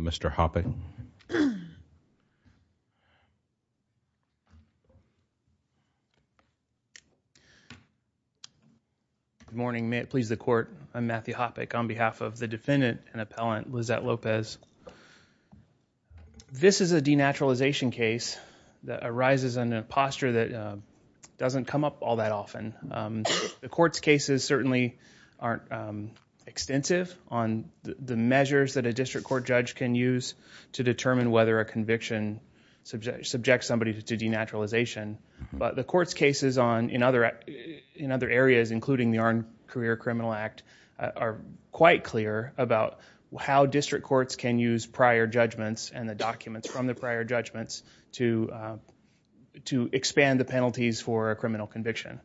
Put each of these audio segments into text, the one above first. Mr. Hoppe. Good morning. May it please the court. I'm Matthew Hoppe on behalf of the defendant and appellant Lisette Lopez. This is a denaturalization case that arises in a posture that doesn't come up all that often. The court's cases certainly aren't extensive on the measures that a district court judge can use to determine whether a conviction subjects somebody to denaturalization. But the court's cases in other areas, including the Armed Career Criminal Act, are quite clear about how district courts can use prior judgments and the documents from the prior judgments to expand the penalties for a criminal conviction.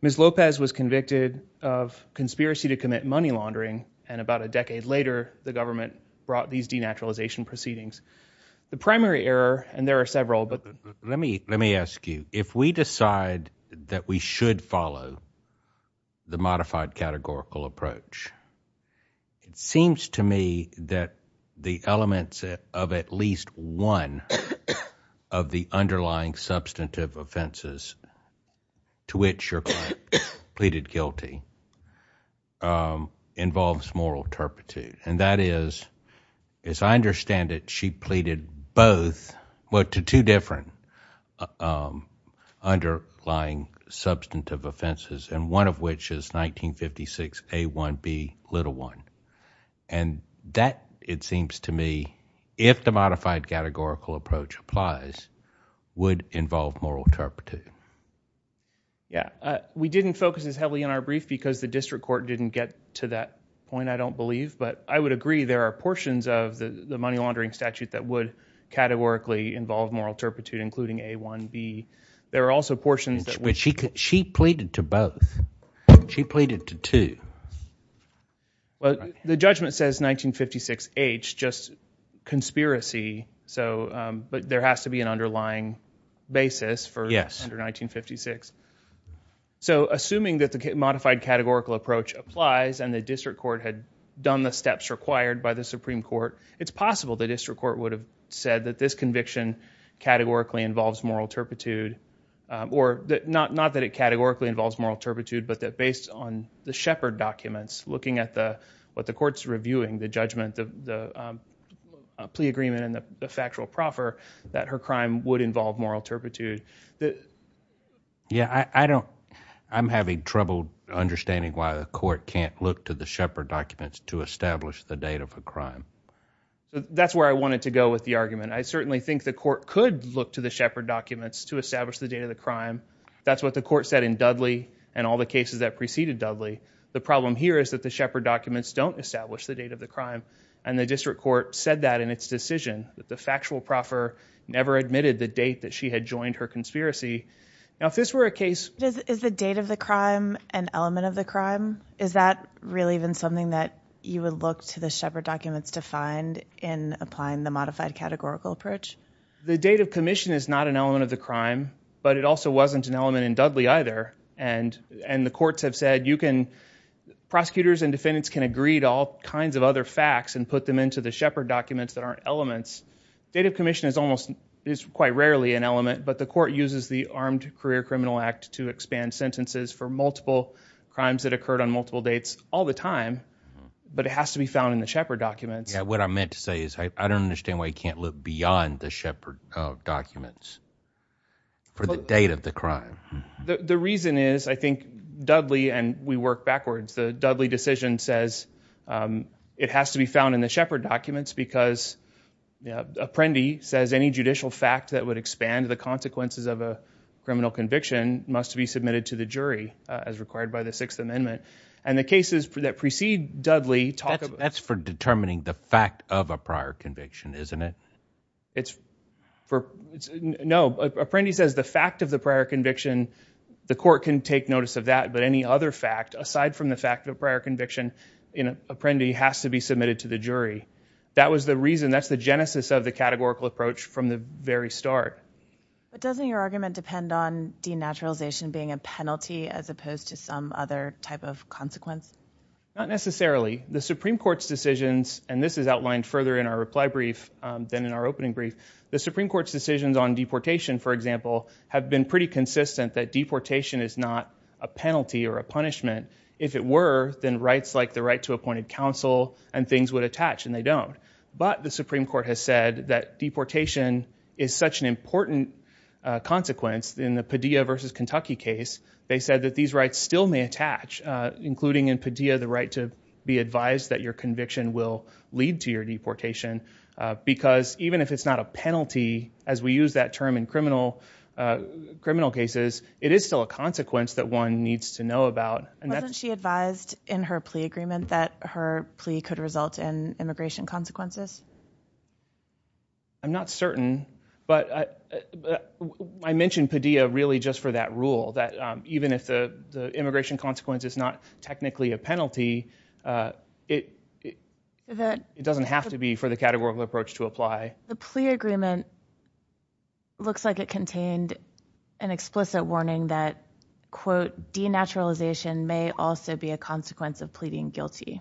Ms. Lopez was convicted of conspiracy to commit money laundering. And about a decade later, the government brought these denaturalization proceedings. The primary error, and there are several, but let me let me ask you, if we decide that we should follow the modified categorical approach, it seems to me that the elements of at least one of the underlying substantive offenses to which your client pleaded guilty involves moral turpitude. And that is, as I understand it, she pleaded both, well, to two different underlying substantive offenses, and one of which is 1956A1B1. And that, it seems to me, if the modified categorical approach applies, would involve moral turpitude. Yeah. We didn't focus as heavily on our brief because the district court didn't get to that point, I don't believe. But I would agree there are portions of the money laundering statute that would categorically involve moral turpitude, including A1B. There are also portions that... But she pleaded to both. She pleaded to two. Well, the judgment says 1956H, just conspiracy. So, but there has to be an underlying basis for under 1956. So, assuming that the modified categorical approach applies and the district court had done the steps required by the Supreme Court, it's possible the district court would have said that this conviction categorically involves moral turpitude, or not that it Yeah, I don't... I'm having trouble understanding why the court can't look to the Shepard documents to establish the date of a crime. That's where I wanted to go with the argument. I certainly think the court could look to the Shepard documents to establish the date of the crime. That's what the court said in Dudley and all the cases that preceded Dudley. The problem here is that the Shepard documents don't establish the date of the crime. And the district court said that in its decision, that the factual proffer never admitted the date that she had joined her conspiracy. Now, if this were a case... Is the date of the crime an element of the crime? Is that really even something that you would look to the Shepard documents to find in applying the modified categorical approach? The date of commission is not an element of the crime, but it also wasn't an element in Dudley either. And the courts have said you can... Prosecutors and defendants can agree to all kinds of other facts and put them into the Shepard documents that aren't elements. Date of commission is almost... It's quite rarely an element, but the court uses the Armed Career Criminal Act to expand sentences for multiple crimes that occurred on multiple dates all the time, but it has to be found in the Shepard documents. Yeah, what I meant to say is I don't understand why you can't look beyond the Shepard documents. For the date of the crime. The reason is, I think, Dudley... And we work backwards. The Dudley decision says it has to be found in the Shepard documents because Apprendi says any judicial fact that would expand the consequences of a criminal conviction must be submitted to the jury as required by the Sixth Amendment. And the cases that precede Dudley... That's for determining the fact of a prior conviction, isn't it? It's for... No. Apprendi says the fact of the prior conviction, the court can take notice of that, but any other fact aside from the fact of a prior conviction in Apprendi has to be submitted to the jury. That was the reason. That's the genesis of the categorical approach from the very start. But doesn't your argument depend on denaturalization being a penalty as opposed to some other type of consequence? Not necessarily. The Supreme Court's decisions... And this is outlined further in our reply brief than in our opening brief. The Supreme Court's decisions on deportation, for example, have been pretty consistent that deportation is not a penalty or a punishment. If it were, then rights like the right to appointed counsel and things would attach, and they don't. But the Supreme Court has said that deportation is such an important consequence in the Padilla versus Kentucky case. They said that these rights still may attach, including in Padilla the right to be advised that your conviction will lead to your deportation. Because even if it's not a penalty, as we use that term in criminal cases, it is still a consequence that one needs to know about. Wasn't she advised in her plea agreement that her plea could result in immigration for that rule, that even if the immigration consequence is not technically a penalty, it doesn't have to be for the categorical approach to apply? The plea agreement looks like it contained an explicit warning that, quote, denaturalization may also be a consequence of pleading guilty.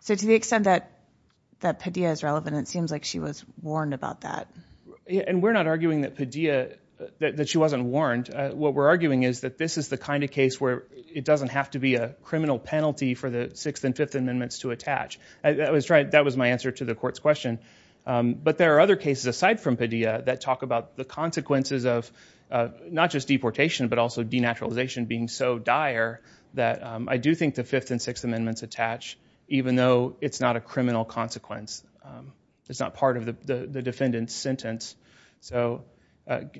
So to the extent that Padilla is relevant, it seems like she was warned about that. We're not arguing that she wasn't warned. What we're arguing is that this is the kind of case where it doesn't have to be a criminal penalty for the Sixth and Fifth Amendments to attach. That was my answer to the court's question. But there are other cases aside from Padilla that talk about the consequences of not just deportation, but also denaturalization being so dire that I do think the Fifth and Sixth Amendments attach, even though it's not a defendant's sentence. So,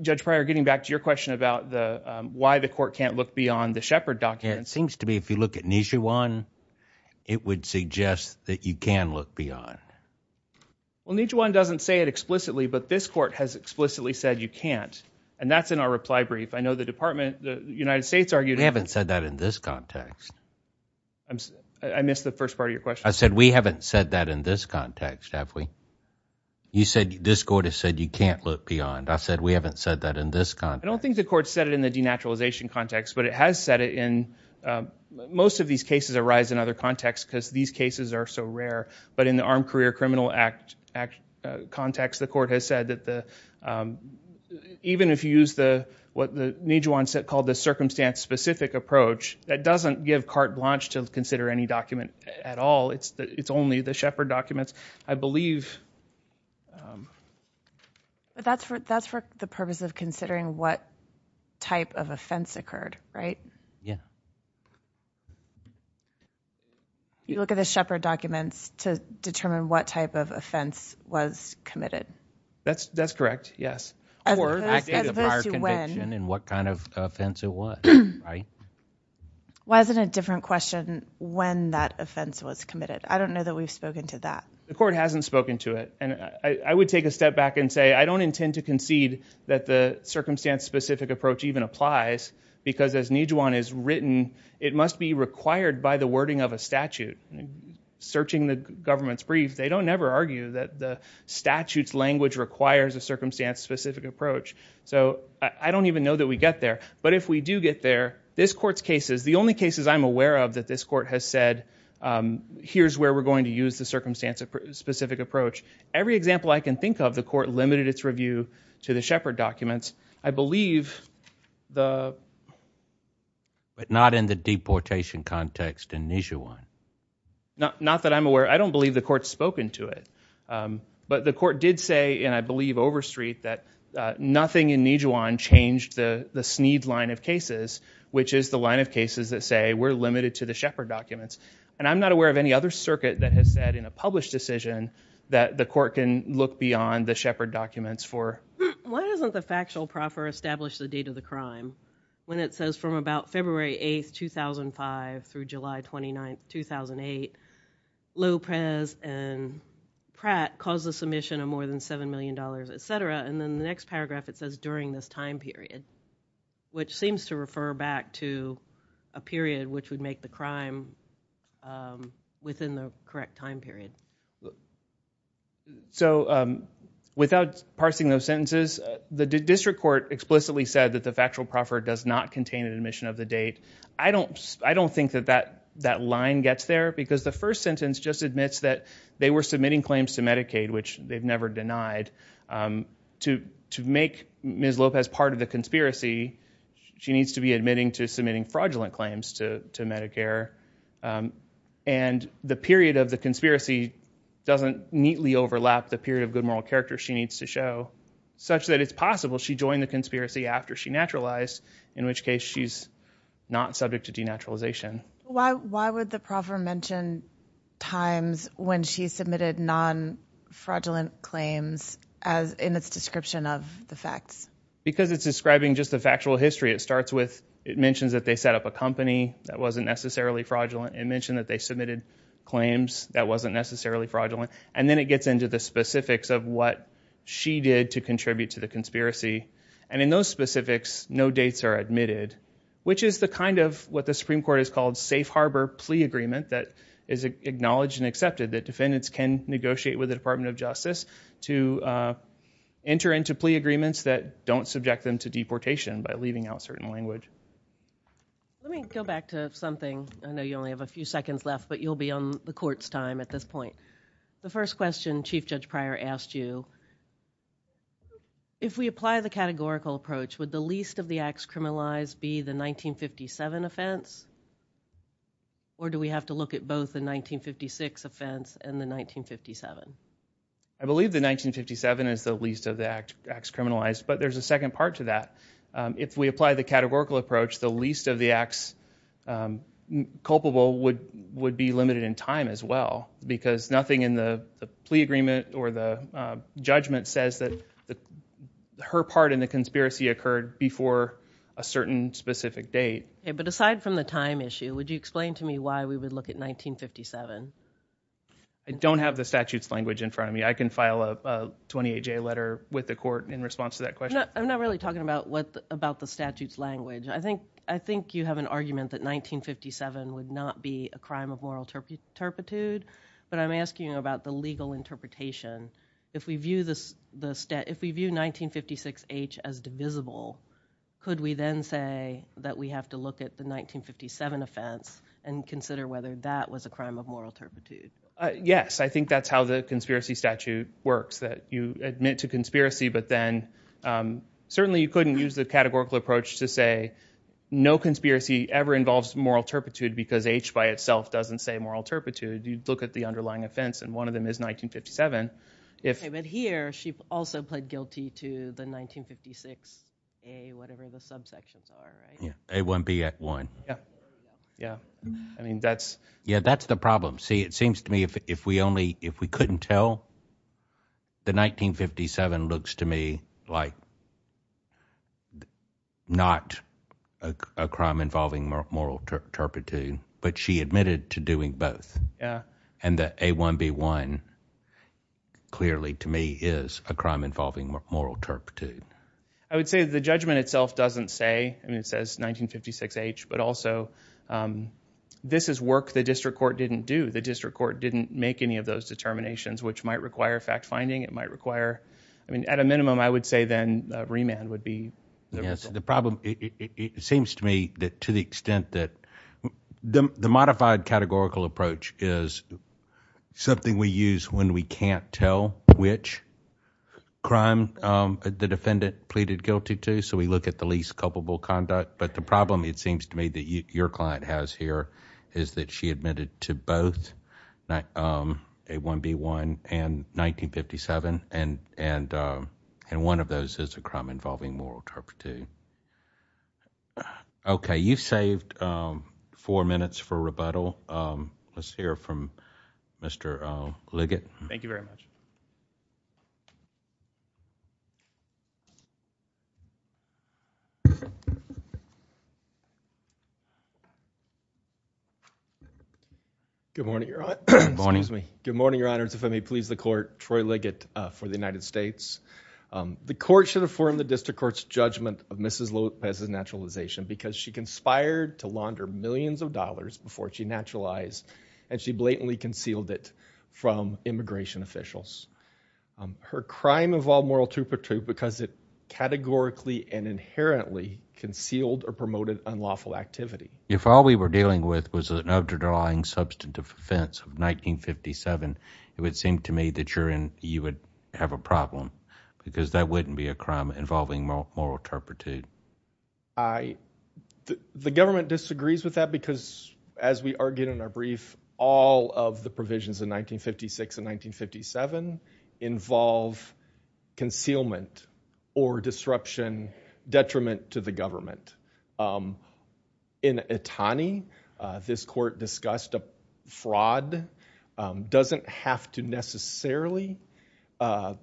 Judge Pryor, getting back to your question about why the court can't look beyond the Shepard document. It seems to me if you look at Nijhuan, it would suggest that you can look beyond. Well, Nijhuan doesn't say it explicitly, but this court has explicitly said you can't, and that's in our reply brief. I know the department, the United States argued... We haven't said that in this context. I missed the first part of your question. I said we haven't said that in this court has said you can't look beyond. I said we haven't said that in this context. I don't think the court said it in the denaturalization context, but it has said it in... Most of these cases arise in other contexts because these cases are so rare, but in the Armed Career Criminal Act context, the court has said that even if you use what Nijhuan called the circumstance-specific approach, that doesn't give carte blanche to consider any document at all. It's only the circumstances. But that's for the purpose of considering what type of offense occurred, right? Yeah. You look at the Shepard documents to determine what type of offense was committed. That's correct, yes, or prior conviction and what kind of offense it was, right? Why isn't it a different question when that offense was committed? I don't know that we've spoken to it. I would take a step back and say I don't intend to concede that the circumstance-specific approach even applies, because as Nijhuan has written, it must be required by the wording of a statute. Searching the government's brief, they don't ever argue that the statute's language requires a circumstance-specific approach. So I don't even know that we get there. But if we do get there, this court's cases, the only cases I'm aware of that this court has said, here's where we're going to use the circumstance-specific approach. Every example I can think of, the court limited its review to the Shepard documents. I believe the... But not in the deportation context in Nijhuan. Not that I'm aware. I don't believe the court's spoken to it. But the court did say, and I believe Overstreet, that nothing in Nijhuan changed the Sneed line of cases, which is the line of cases that say we're limited to the Shepard documents. And I'm not aware of any other circuit that has said in a published decision that the court can look beyond the Shepard documents for... Why doesn't the factual proffer establish the date of the crime, when it says from about February 8th, 2005 through July 29th, 2008, Lopez and Pratt caused the submission of more than $7 this time period, which seems to refer back to a period which would make the crime within the correct time period. So, without parsing those sentences, the district court explicitly said that the factual proffer does not contain an admission of the date. I don't think that that line gets there, because the first sentence just admits that they were submitting claims to Medicaid, which they've never denied. To make Ms. Lopez part of the conspiracy, she needs to be admitting to submitting fraudulent claims to Medicare. And the period of the conspiracy doesn't neatly overlap the period of good moral character she needs to show, such that it's possible she joined the conspiracy after she naturalized, in which case she's not subject to denaturalization. Why would the proffer mention times when she submitted non-fraudulent claims as in its description of the facts? Because it's describing just the factual history. It starts with, it mentions that they set up a company that wasn't necessarily fraudulent. It mentioned that they submitted claims that wasn't necessarily fraudulent. And then it gets into the specifics of what she did to contribute to the conspiracy. And in those specifics, no dates are admitted, which is the kind of what the Supreme Court has called safe harbor plea agreement that is acknowledged and accepted, that defendants can negotiate with the Department of Justice to enter into plea agreements that don't subject them to deportation by leaving out certain language. Let me go back to something. I know you only have a few seconds left, but you'll be on the court's time at this point. The first question Chief Judge Pryor asked you, if we apply the categorical approach, would the least of the acts criminalized be the 1957 offense? Or do we have to look at both the 1956 offense and the 1957? I believe the 1957 is the least of the acts criminalized, but there's a second part to that. If we apply the categorical approach, the least of the acts culpable would be limited in time as well, because nothing in the plea agreement or the judgment says that her part in the conspiracy occurred before a certain specific date. But aside from the time issue, would you explain to me why we would look at 1957? I don't have the statute's language in front of me. I can file a 28-J letter with the court in response to that question. I'm not really talking about the statute's language. I think you have an argument that moral turpitude, but I'm asking you about the legal interpretation. If we view 1956H as divisible, could we then say that we have to look at the 1957 offense and consider whether that was a crime of moral turpitude? Yes. I think that's how the conspiracy statute works, that you admit to conspiracy, but then certainly you couldn't use the categorical approach to say no conspiracy ever involves moral turpitude because H by itself doesn't say moral turpitude. You look at the underlying offense, and one of them is 1957. Okay, but here she also pled guilty to the 1956A, whatever the subsections are, right? Yeah, A1B Act 1. Yeah. I mean, that's... Yeah, that's the problem. See, it seems to me if we couldn't tell, the 1957 looks to me like it's not a crime involving moral turpitude, but she admitted to doing both. Yeah. And the A1B1 clearly to me is a crime involving moral turpitude. I would say the judgment itself doesn't say, I mean, it says 1956H, but also this is work the district court didn't do. The district court didn't make any of those determinations, which might require fact-finding. It might require, I mean, at a minimum, I would say then remand would be the result. Yes. The problem, it seems to me that to the extent that the modified categorical approach is something we use when we can't tell which crime the defendant pleaded guilty to. So, we look at the least culpable conduct. But the problem, it seems to me, that your client has here is that she admitted to both A1B1 and 1957, and one of those is a crime involving moral turpitude. Okay. You've saved four minutes for rebuttal. Let's hear from Mr. Liggett. Thank you very much. Good morning, Your Honor. Excuse me. Good morning, Your Honors. If I may please the court, Troy Liggett for the United States. The court should affirm the district court's judgment of Mrs. Lopez's naturalization because she conspired to launder millions of dollars before she naturalized, and she blatantly concealed it from immigration officials. Her crime involved moral turpitude because it categorically and inherently concealed or promoted unlawful activity. If all we were dealing with was an underlying substantive offense of 1957, it would seem to me that you would have a problem because that wouldn't be a crime involving moral turpitude. The government disagrees with that because, as we argued in our brief, all of the provisions in 1956 and 1957 involve concealment or disruption, detriment to the government. In Itani, this court discussed a fraud doesn't have to necessarily have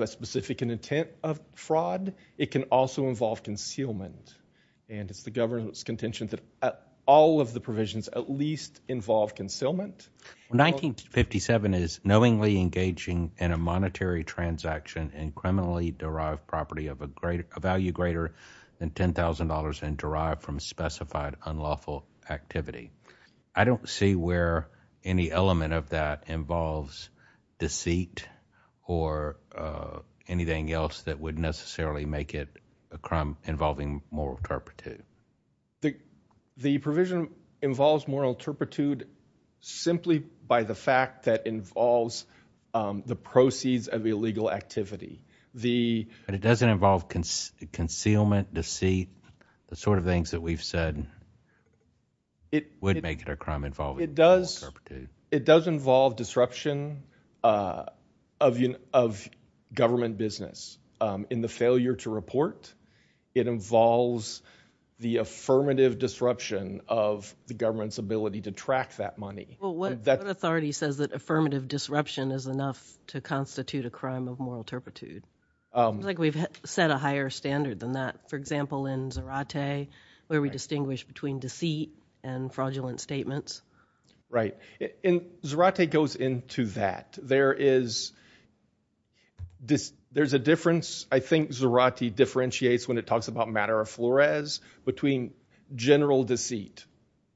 a specific intent of fraud. It can also involve concealment, and it's the government's least involved concealment. 1957 is knowingly engaging in a monetary transaction and criminally derived property of a great value greater than $10,000 and derived from specified unlawful activity. I don't see where any element of that involves deceit or anything else that necessarily would make it a crime involving moral turpitude. The provision involves moral turpitude simply by the fact that it involves the proceeds of illegal activity. It doesn't involve concealment, deceit, the sort of things that we've said would make it a crime involving moral turpitude. It does involve disruption of government business. In the failure to report, it involves the affirmative disruption of the government's ability to track that money. Well, what authority says that affirmative disruption is enough to constitute a crime of moral turpitude? It's like we've set a higher standard than that. For example, in Zarate, where we distinguish between deceit and fraudulent statements. Right. Zarate goes into that. There's a difference. I think Zarate differentiates when it talks about matter of flores between general deceit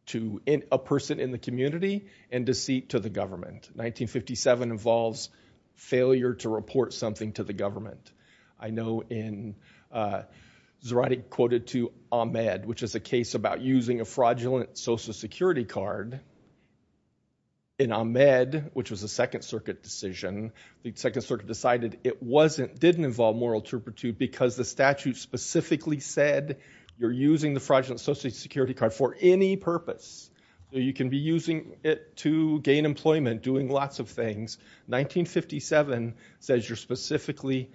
to a person in the community and deceit to the government. 1957 involves failure to report something to the government. I know in Zarate quoted to Ahmed, which is a case about using a fraudulent social security card. In Ahmed, which was a second circuit decision, the second circuit decided it didn't involve moral turpitude because the statute specifically said you're using the fraudulent social security card for any purpose. You can be using it to gain employment, doing lots of things. 1957 says you're specifically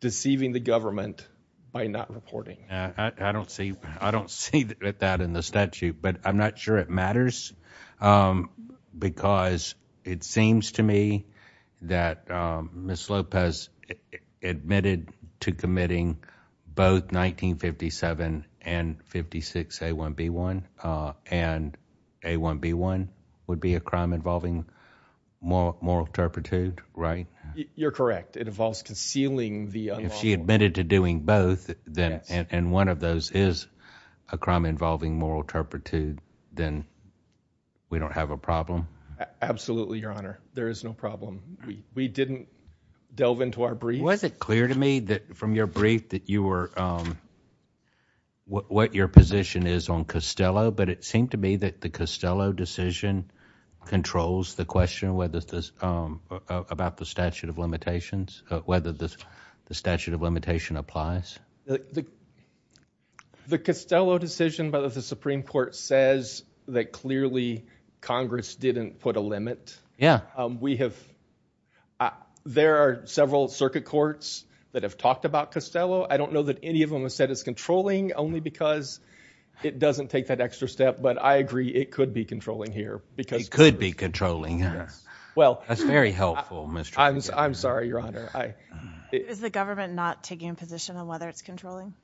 deceiving the government by not reporting. I don't see that in the statute, but I'm not sure it matters because it seems to me that Ms. Lopez admitted to committing both 1957 and 56A1B1 and A1B1 would be a crime involving moral turpitude, right? You're correct. It involves concealing the unlawful. If she admitted to doing both then and one of those is a crime involving moral turpitude, then we don't have a problem. Absolutely, your honor. There is no problem. We didn't delve into our brief. Was it clear to me that from your brief that you were what your position is on Costello, but it seemed me that the Costello decision controls the question about the statute of limitations, whether the statute of limitation applies? The Costello decision by the Supreme Court says that clearly Congress didn't put a limit. There are several circuit courts that have talked about Costello. I don't know that any of them have said it's controlling only because it doesn't take that extra step, but I agree it could be controlling here. It could be controlling. That's very helpful. I'm sorry, your honor. Is the government not taking a position on whether it's controlling?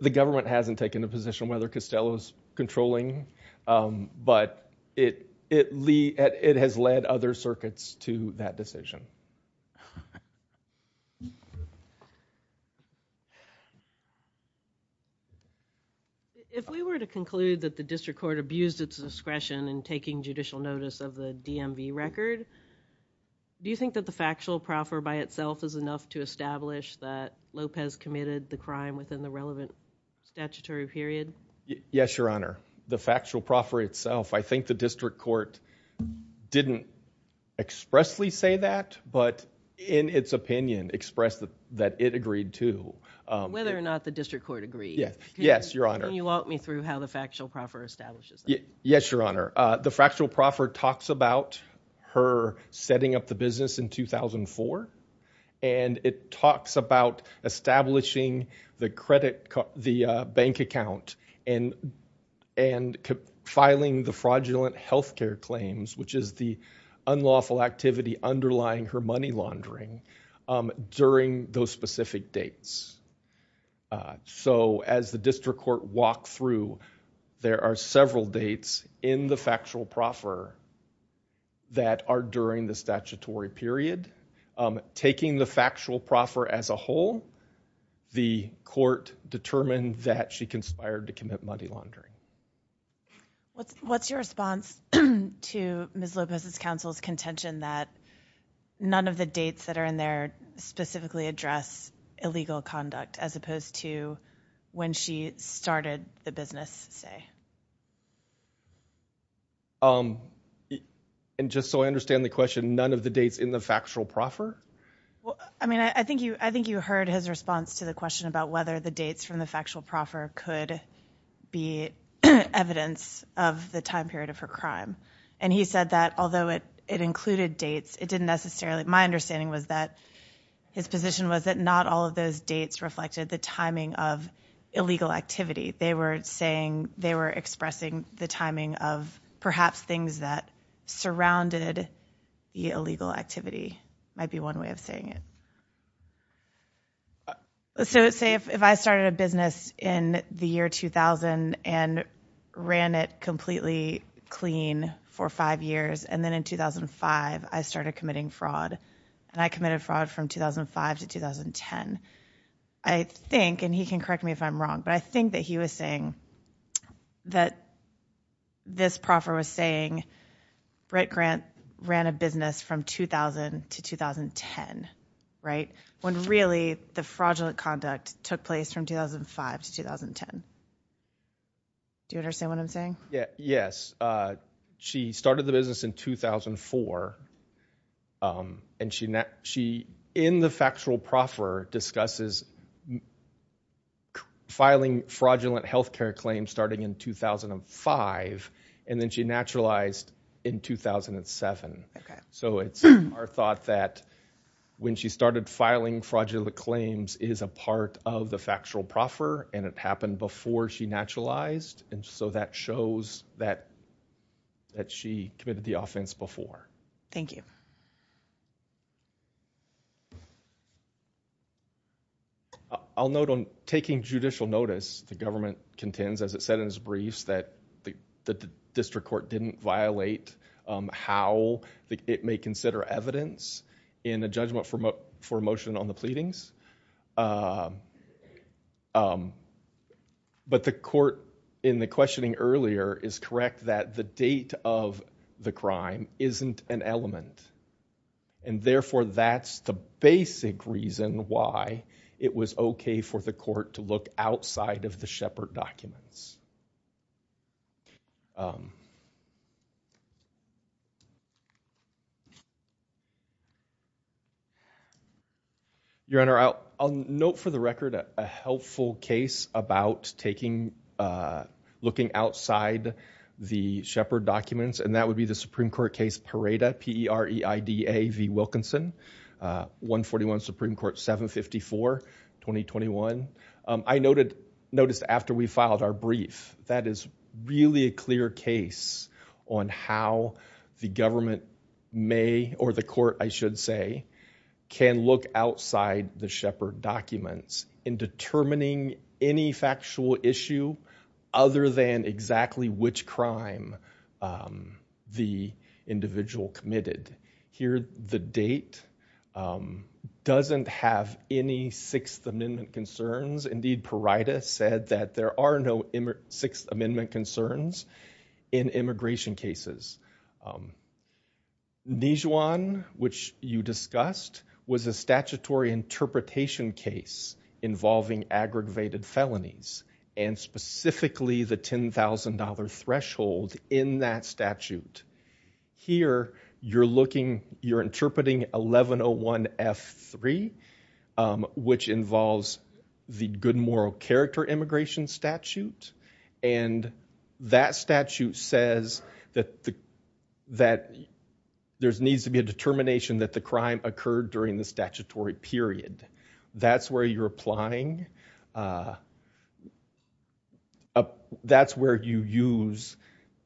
The government hasn't taken a position on whether Costello is controlling, but it has led other circuits to that decision. If we were to conclude that the district court abused its discretion in taking judicial notice of the DMV record, do you think that the factual proffer by itself is enough to establish that Lopez committed the crime within the relevant statutory period? Yes, your honor. The factual proffer talks about her setting up the business in 2004, and it talks about establishing the money laundering during those specific dates. As the district court walked through, there are several dates in the factual proffer that are during the statutory period. Taking the factual proffer as a whole, the court determined that she conspired to commit money laundering. What's your response to Ms. Lopez's counsel's contention that none of the dates that are in there specifically address illegal conduct as opposed to when she started the business, say? And just so I understand the question, none of the dates in the factual proffer? I mean, I think you heard his response to the question about whether the dates from the factual proffer could be evidence of the time period of her crime. And he said that although it included dates, it didn't necessarily. My understanding was that his position was that not all of those dates reflected the timing of illegal activity. They were expressing the timing of perhaps things that surrounded the illegal activity might be one way of saying it. Let's say if I started a business in the year 2000 and ran it completely clean for five years, and then in 2005, I started committing fraud. And I committed fraud from 2005 to 2010. I think, and he can correct me if I'm wrong, but I think that he was saying that this proffer was saying Brett Grant ran a business from 2000 to 2010, right? When really the fraudulent conduct took place from 2005 to 2010. Do you understand what I'm saying? Yeah. Yes. She started the business in 2004, and she in the factual proffer discusses filing fraudulent health care claims starting in 2005, and then she naturalized in 2007. So it's our thought that when she started filing fraudulent claims is a part of the factual proffer, and it happened before she naturalized. And so that shows that she committed the offense before. Thank you. I'll note on taking judicial notice, the government contends, as it said in his briefs, that the district court didn't violate how it may consider evidence in a judgment for motion on the pleadings. But the court in the questioning earlier is correct that the date of the crime isn't an element. And therefore, that's the basic reason why it was okay for the court to look outside of the Shepard documents. Your Honor, I'll note for the record a helpful case about taking, looking outside the Shepard documents, and that would be the Supreme Court case Pareda, P-E-R-E-I-D-A v. Wilkinson, 141 Supreme Court 754, 2021. I noticed after we filed our brief that is really a clear case on how the government may, or the court, I should say, can look outside the Shepard documents in determining any factual issue other than exactly which crime the individual committed. Here, the date doesn't have any Sixth Amendment concerns. Indeed, Pareda said that there are no Sixth Amendment concerns in immigration cases. Nijuan, which you discussed, was a statutory interpretation case involving aggravated felonies, and specifically the $10,000 threshold in that statute. Here, you're looking, you're interpreting 1101F3, which involves the good moral character immigration statute. And that statute says that there needs to be a determination that the crime occurred during the statutory period. That's where you're applying, that's where you use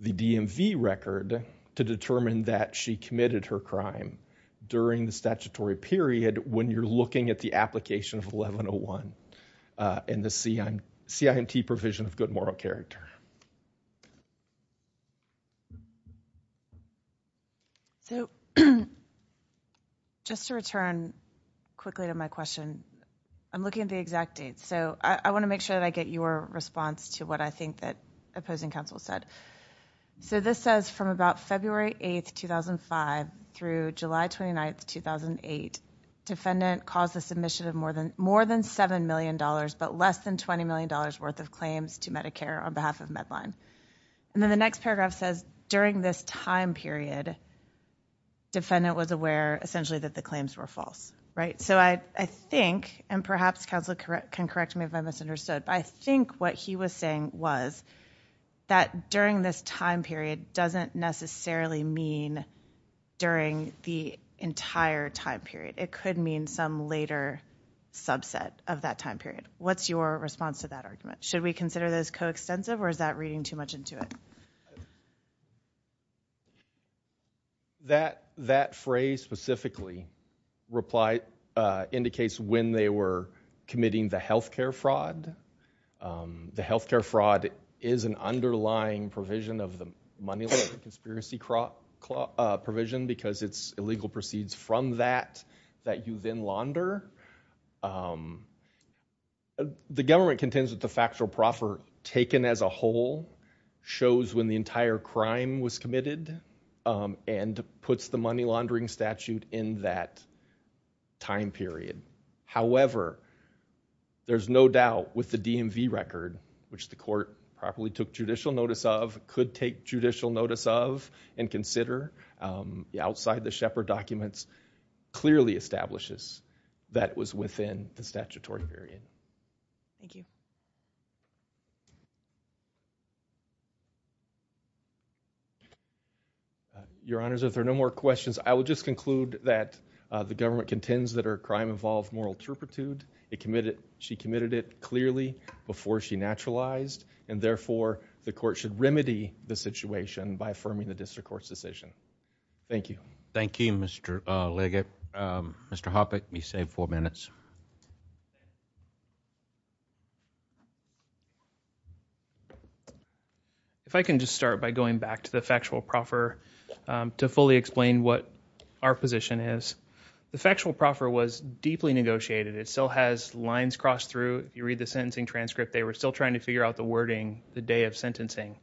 the DMV record to determine that she committed her crime during the statutory period when you're looking at the application of 1101 and the CIMT provision of good moral character. So, just to return quickly to my question, I'm looking at the exact date. So, I want to make sure that I get your response to what I think that opposing counsel said. So, this says from about February 8, 2005 through July 29, 2008, defendant caused the submission of more than $7 million, but less than $20 million worth of claims to Medicare on behalf of Medline. And then the next paragraph says during this time period, defendant was aware essentially that the claims were false, right? So, I think, and perhaps counsel can correct me if I misunderstood, but I think what he was saying was that during this time period doesn't necessarily mean during the entire time period. It could mean some later subset of that time period. What's your response to that argument? Should we consider those coextensive or is that reading too much into it? That phrase specifically indicates when they were committing the healthcare fraud, and the healthcare fraud is an underlying provision of the money laundering conspiracy provision because it's illegal proceeds from that that you then launder. The government contends that the factual proffer taken as a whole shows when the entire crime was committed and puts the money laundering statute in that time period. However, there's no doubt with the DMV record, which the court properly took judicial notice of, could take judicial notice of, and consider the outside the Shepard documents clearly establishes that was within the statutory period. Thank you. Your honors, if there are no more questions, I will just conclude that the government contends that her crime involved moral turpitude. She committed it clearly before she naturalized, and therefore, the court should remedy the situation by affirming the district court's decision. Thank you. Thank you, Mr. Leggett. Mr. Hoppe, you saved four minutes. If I can just start by going back to the factual proffer to fully explain what our position is. The factual proffer was deeply negotiated. It still has lines crossed through. You read the sentencing transcript. They were still trying to figure out the wording the day of sentencing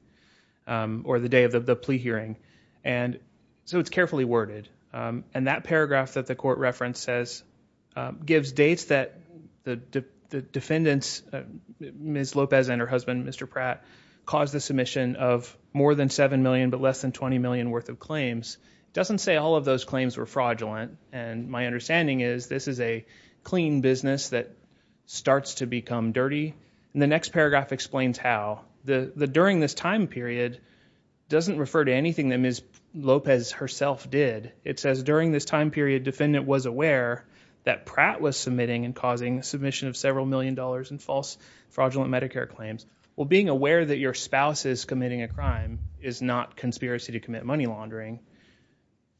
or the day of the plea hearing, and so it's carefully worded, and that paragraph that the court reference says gives dates that the defendants, Ms. Lopez and her husband, Mr. Pratt, caused the submission of more than $7 million but less than $20 million worth of claims. It doesn't say all of those claims were fraudulent, and my understanding is this is a clean business that starts to become dirty, and the next paragraph explains how. The during this time period doesn't refer to anything that Ms. Lopez herself did. It says during this time period, defendant was aware that Pratt was submitting and causing submission of several million dollars in false fraudulent Medicare claims. Well, being aware that your spouse is committing a crime is not conspiracy to commit money laundering.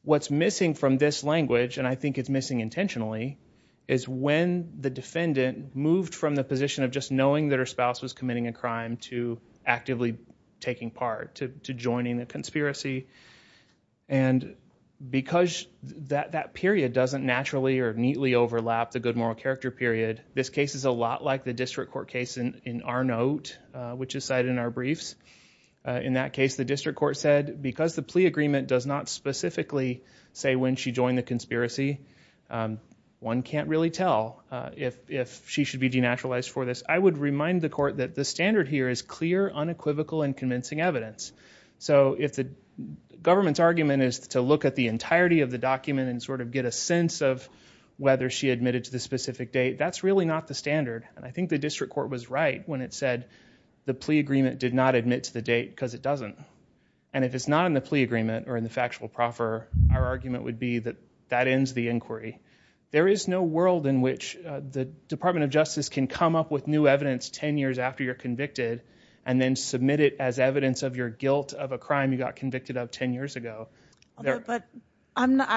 What's missing from this language, and I think it's missing intentionally, is when the defendant moved from the position of just knowing that her spouse was committing a crime to actively taking part, to joining the conspiracy, and because that period doesn't naturally or neatly overlap the good moral character period, this case is a lot like the district court case in our note, which is cited in our briefs. In that case, the district court said, because the plea agreement does not specifically say when she joined the conspiracy, one can't really tell if she should be denaturalized for this. I would remind the court that the standard here is clear, unequivocal, and convincing evidence, so if the government's argument is to look at the entirety of the document and sort of get a sense of whether she admitted to the specific date, that's really not the standard, and I think the district court was right when it said the plea agreement did not admit to the date because it doesn't, and if it's not in the plea agreement or in the factual proffer, our argument would be that that ends the inquiry. There is no world in which the Department of Justice can come up with new evidence 10 years after you're convicted and then submit it as evidence of your guilt of a crime you got convicted of 10 years ago. I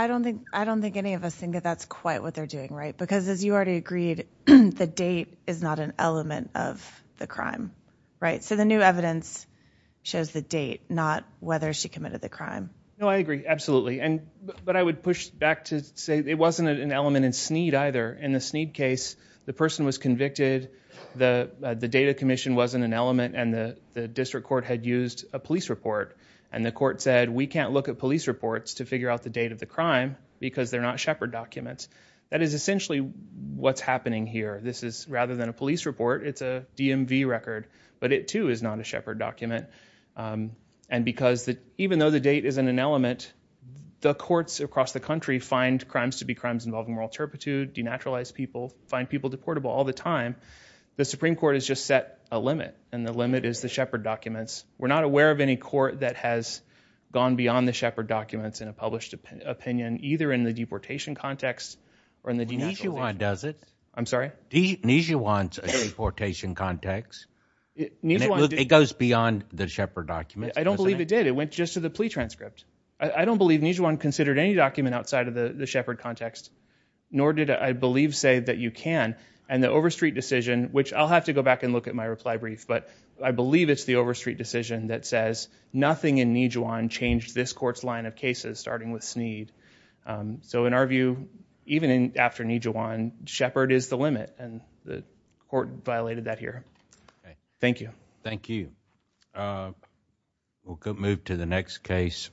don't think any of us think that's quite what they're doing, right? Because as you already agreed, the date is not an element of the crime, right? So the new evidence shows the date, not whether she committed the crime. No, I agree, absolutely, but I would push back to say it wasn't an element in Sneed either. In the Sneed case, the person was convicted, the data commission wasn't an element, and the district court had used a police report, and the court said we can't look at police reports to say they're not Shepard documents. That is essentially what's happening here. This is, rather than a police report, it's a DMV record, but it too is not a Shepard document, and because even though the date isn't an element, the courts across the country find crimes to be crimes involving moral turpitude, denaturalize people, find people deportable all the time. The Supreme Court has just set a limit, and the limit is the Shepard documents. We're not aware of any court that has gone beyond the Shepard documents in a published opinion, either in the deportation context, or in the denaturalization. Nijuan does it. I'm sorry? Nijuan's a deportation context. It goes beyond the Shepard documents. I don't believe it did. It went just to the plea transcript. I don't believe Nijuan considered any document outside of the Shepard context, nor did I believe say that you can, and the Overstreet decision, which I'll have to go back and look at my reply brief, but I believe it's the starting with Snead. So in our view, even after Nijuan, Shepard is the limit, and the court violated that here. Thank you. Thank you. We'll move to the next case.